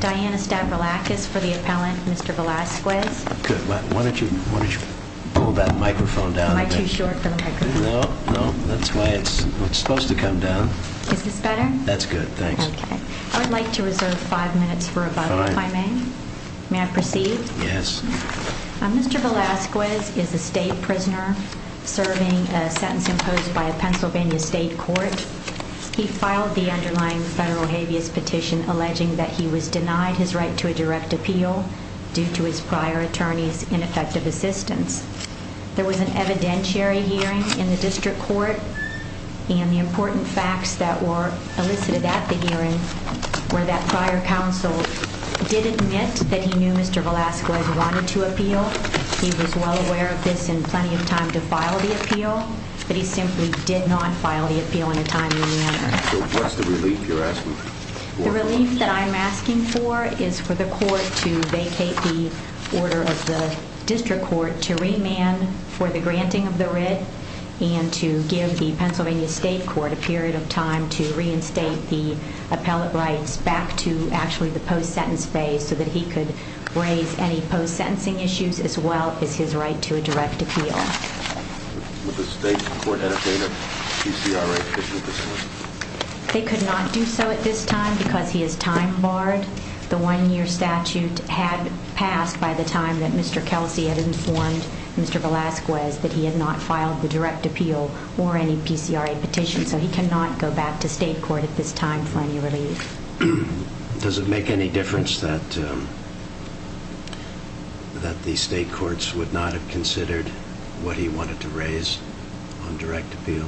Diana Stavroulakis for the appellant, Mr. Velazquez. Why don't you pull that microphone down a bit. Am I too short for the microphone? No, that's why it's supposed to come down. Is this better? That's good, thanks. I would like to reserve five minutes for rebuttal, if I may. May I proceed? Yes. Mr. Velazquez is a state prisoner serving a sentence imposed by a Pennsylvania state court. He filed the underlying federal habeas petition alleging that he was denied his right to a direct appeal due to his prior attorney's ineffective assistance. There was an evidentiary hearing in the district court, and the important facts that were elicited at the hearing were that prior counsel did admit that he knew Mr. Velazquez wanted to appeal. He was well aware of this and plenty of time to file the appeal, but he simply did not file the appeal in a timely manner. So what's the relief you're asking for? The relief that I'm asking for is for the court to vacate the order of the district court to remand for the granting of the writ and to give the Pennsylvania state court a period of time to reinstate the appellate rights back to actually the post-sentence phase so that he could raise any post-sentencing issues as well as his right to a direct appeal. Would the state court entertain a PCRA petition at this time? They could not do so at this time because he is time barred. The one-year statute had passed by the time that Mr. Kelsey had informed Mr. Velazquez that he had not filed the direct appeal or any PCRA petition, so he cannot go back to state court at this time for any relief. Does it make any difference that the state courts would not have considered what he wanted to raise on direct appeal?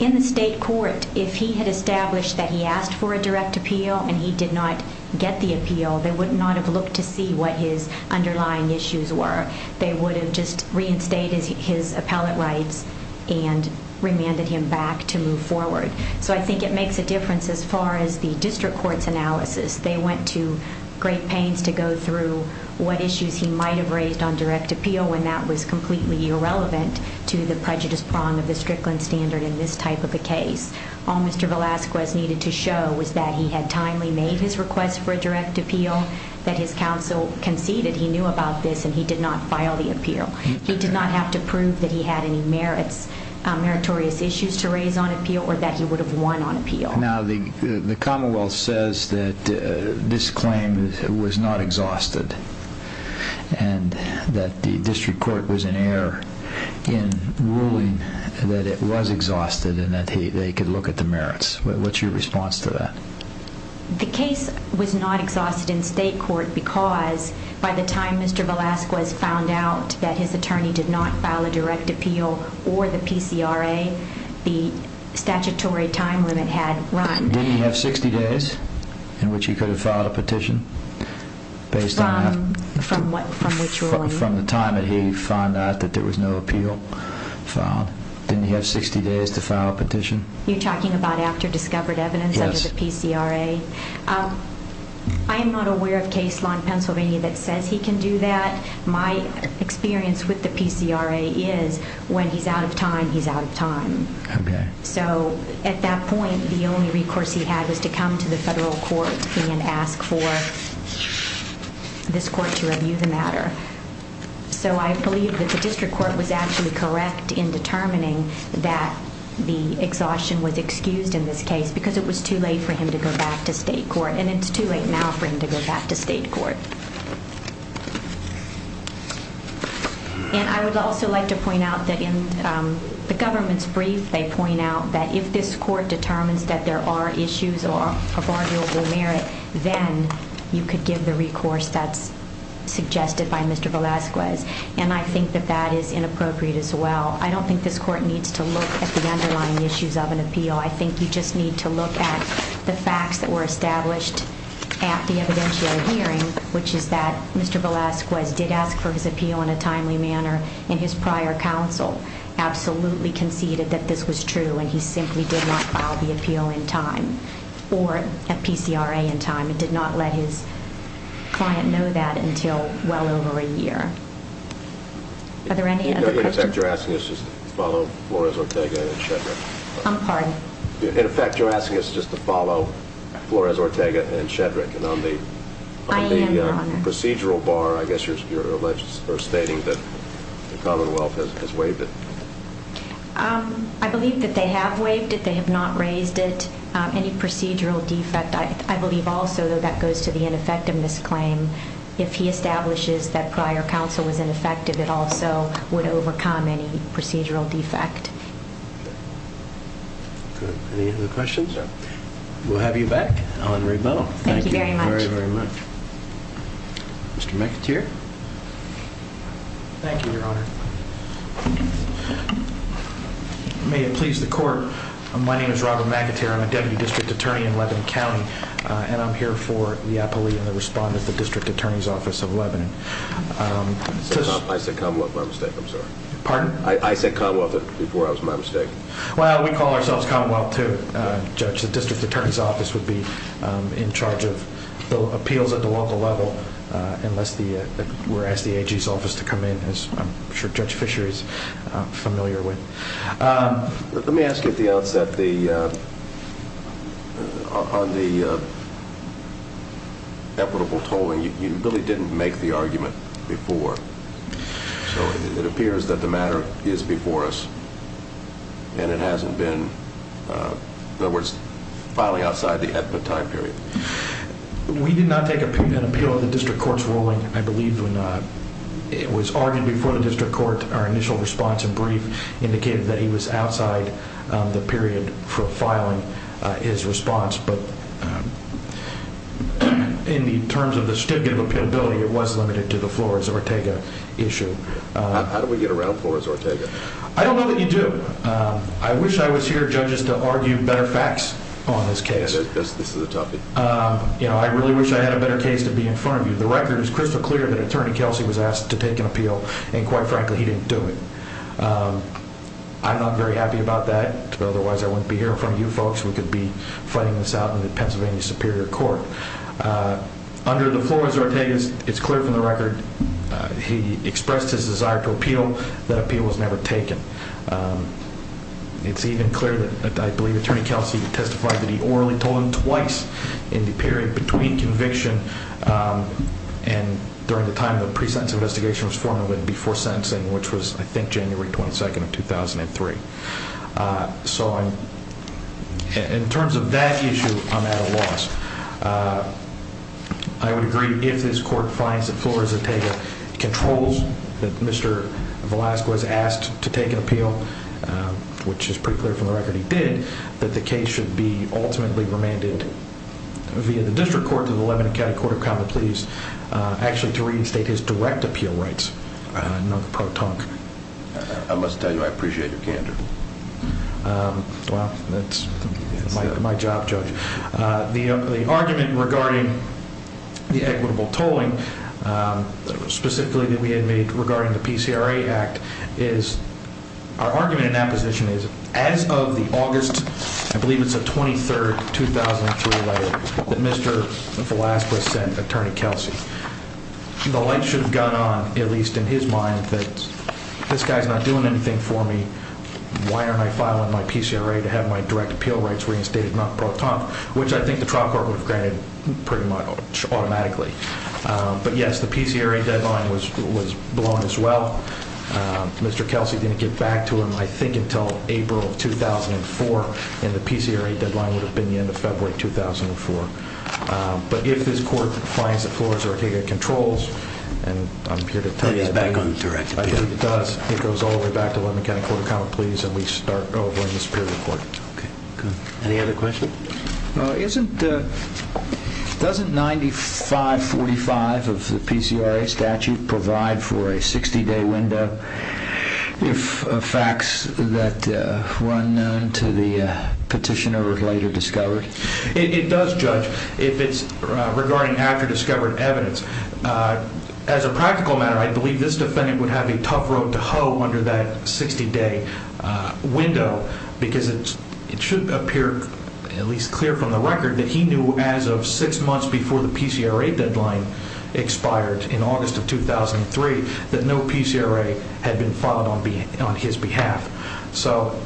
In the state court, if he had established that he asked for a direct appeal and he did not get the appeal, they would not have looked to see what his underlying issues were. They would have just reinstated his appellate rights and remanded him back to move forward. I think it makes a difference as far as the district court's analysis. They went to great pains to go through what issues he might have raised on direct appeal when that was completely irrelevant to the prejudice prong of the Strickland standard in this type of a case. All Mr. Velazquez needed to show was that he had timely made his request for a direct appeal, that his counsel conceded he knew about this, and he did not file the appeal. He did not have to prove that he had any meritorious issues to raise on appeal or that he would have won on appeal. The commonwealth says that this claim was not exhausted and that the district court was in error in ruling that it was exhausted and that they could look at the merits. What's your response to that? The case was not exhausted in state court because by the time Mr. Velazquez found out that his attorney did not file a direct appeal or the PCRA, the statutory time limit had run. Didn't he have 60 days in which he could have filed a petition? From which ruling? From the time that he found out that there was no appeal filed. Didn't he have 60 days to file a petition? You're talking about after discovered evidence under the PCRA? Yes. I am not aware of case law in Pennsylvania that says he can do that. My experience with the PCRA is when he's out of time, he's out of time. Okay. So at that point, the only recourse he had was to come to the federal court and ask for this court to review the matter. So I believe that the district court was actually correct in determining that the exhaustion was excused in this case because it was too late for him to go back to state court. And it's too late now for him to go back to state court. And I would also like to point out that in the government's brief, they point out that if this court determines that there are issues of arguable merit, then you could give the recourse that's suggested by Mr. Velasquez. And I think that that is inappropriate as well. I don't think this court needs to look at the underlying issues of an appeal. I think you just need to look at the facts that were established at the evidentiary hearing, which is that Mr. Velasquez did ask for his appeal in a timely manner. And his prior counsel absolutely conceded that this was true. And he simply did not file the appeal in time or a PCRA in time and did not let his client know that until well over a year. Are there any other questions? If you're asking this, just follow Flores, Ortega, and Shetland. I'm pardoned. In effect, you're asking us just to follow Flores, Ortega, and Shedrick. And on the procedural bar, I guess you're stating that the Commonwealth has waived it. I believe that they have waived it. They have not raised it. Any procedural defect, I believe also, though that goes to the ineffectiveness claim, if he establishes that prior counsel was ineffective, it also would overcome any procedural defect. Good. Any other questions? No. We'll have you back on rebuttal. Thank you very much. Thank you very, very much. Mr. McAteer? Thank you, Your Honor. May it please the Court, my name is Robert McAteer. I'm a Deputy District Attorney in Lebanon County, and I'm here for the appellee and the respondent of the District Attorney's Office of Lebanon. I said Commonwealth by mistake. I'm sorry. Pardon? I said Commonwealth before it was my mistake. Well, we call ourselves Commonwealth, too, Judge. The District Attorney's Office would be in charge of appeals at the local level unless we're asked the AG's office to come in, as I'm sure Judge Fisher is familiar with. Let me ask you at the outset, on the equitable tolling, you really didn't make the argument before. So it appears that the matter is before us, and it hasn't been, in other words, filing outside the ethnic time period. We did not take an appeal of the district court's ruling. I believe when it was argued before the district court, our initial response and brief indicated that he was outside the period for filing his response. But in terms of the stigma of appealability, it was limited to the Flores-Ortega issue. How did we get around Flores-Ortega? I don't know that you do. I wish I was here, Judges, to argue better facts on this case. This is a toughie. I really wish I had a better case to be in front of you. The record is crystal clear that Attorney Kelsey was asked to take an appeal, and quite frankly, he didn't do it. I'm not very happy about that. Otherwise, I wouldn't be here in front of you folks. We could be fighting this out in the Pennsylvania Superior Court. Under the Flores-Ortega, it's clear from the record he expressed his desire to appeal. That appeal was never taken. It's even clear that I believe Attorney Kelsey testified that he orally told him twice in the period between conviction and during the time the pre-sentence investigation was formally before sentencing, which was, I think, January 22nd of 2003. In terms of that issue, I'm at a loss. I would agree, if this court finds that Flores-Ortega controls that Mr. Velasquez asked to take an appeal, which is pretty clear from the record he did, that the case should be ultimately remanded via the District Court to the Lebanon County Court of Common Pleas actually to reinstate his direct appeal rights, not the pro tonque. I must tell you I appreciate your candor. Well, that's my job, Judge. The argument regarding the equitable tolling, specifically that we had made regarding the PCRA Act, our argument in that position is, as of the August, I believe it's the 23rd, 2003 letter that Mr. Velasquez sent Attorney Kelsey, the light should have gone on, at least in his mind, that this guy's not doing anything for me. Why am I filing my PCRA to have my direct appeal rights reinstated, not pro tonque, which I think the trial court would have granted pretty much automatically. But yes, the PCRA deadline was blown as well. Mr. Kelsey didn't get back to him, I think, until April of 2004, and the PCRA deadline would have been the end of February of 2004. But if this court finds that Flores-Ortega controls, and I'm here to tell you that it does, it goes all the way back to the Lebanon County Court of Common Pleas and we start over in the Superior Court. Any other questions? Well, doesn't 9545 of the PCRA statute provide for a 60-day window if facts that were unknown to the petitioner are later discovered? It does, Judge, if it's regarding after-discovered evidence. As a practical matter, I believe this defendant would have a tough road to hoe under that 60-day window because it should appear at least clear from the record that he knew as of six months before the PCRA deadline expired in August of 2003 that no PCRA had been filed on his behalf. So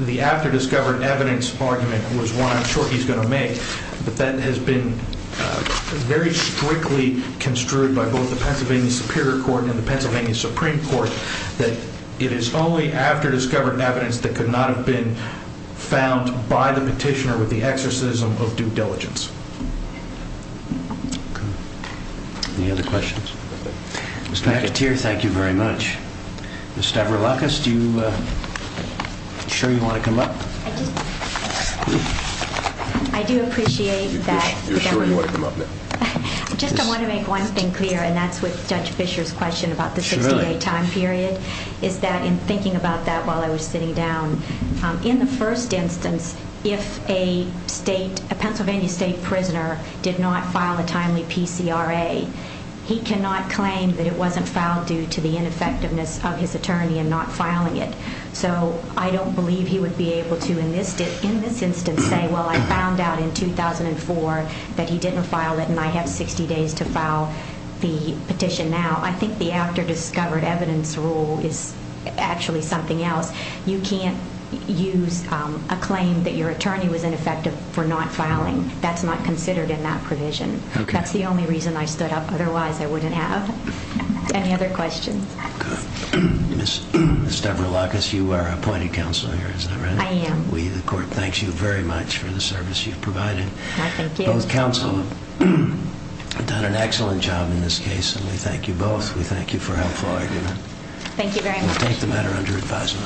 the after-discovered evidence argument was one I'm sure he's going to make, but that has been very strictly construed by both the Pennsylvania Superior Court and the Pennsylvania Supreme Court that it is only after-discovered evidence that could not have been found by the petitioner with the exorcism of due diligence. Any other questions? Mr. McAteer, thank you very much. Ms. Stavroulakis, are you sure you want to come up? I do appreciate that. You're sure you want to come up now? Just I want to make one thing clear, and that's with Judge Fischer's question about the 60-day time period, is that in thinking about that while I was sitting down, in the first instance, if a Pennsylvania state prisoner did not file a timely PCRA, he cannot claim that it wasn't filed due to the ineffectiveness of his attorney in not filing it. So I don't believe he would be able to, in this instance, say, well, I found out in 2004 that he didn't file it and I have 60 days to file the petition now. I think the after-discovered evidence rule is actually something else. You can't use a claim that your attorney was ineffective for not filing. That's not considered in that provision. That's the only reason I stood up. Otherwise, I wouldn't have. Any other questions? Good. Ms. Deverlochus, you are appointed counsel here, is that right? I am. The court thanks you very much for the service you've provided. Both counsel have done an excellent job in this case, and we thank you both. We thank you for helpful argument. Thank you very much. We'll take the matter under advisement.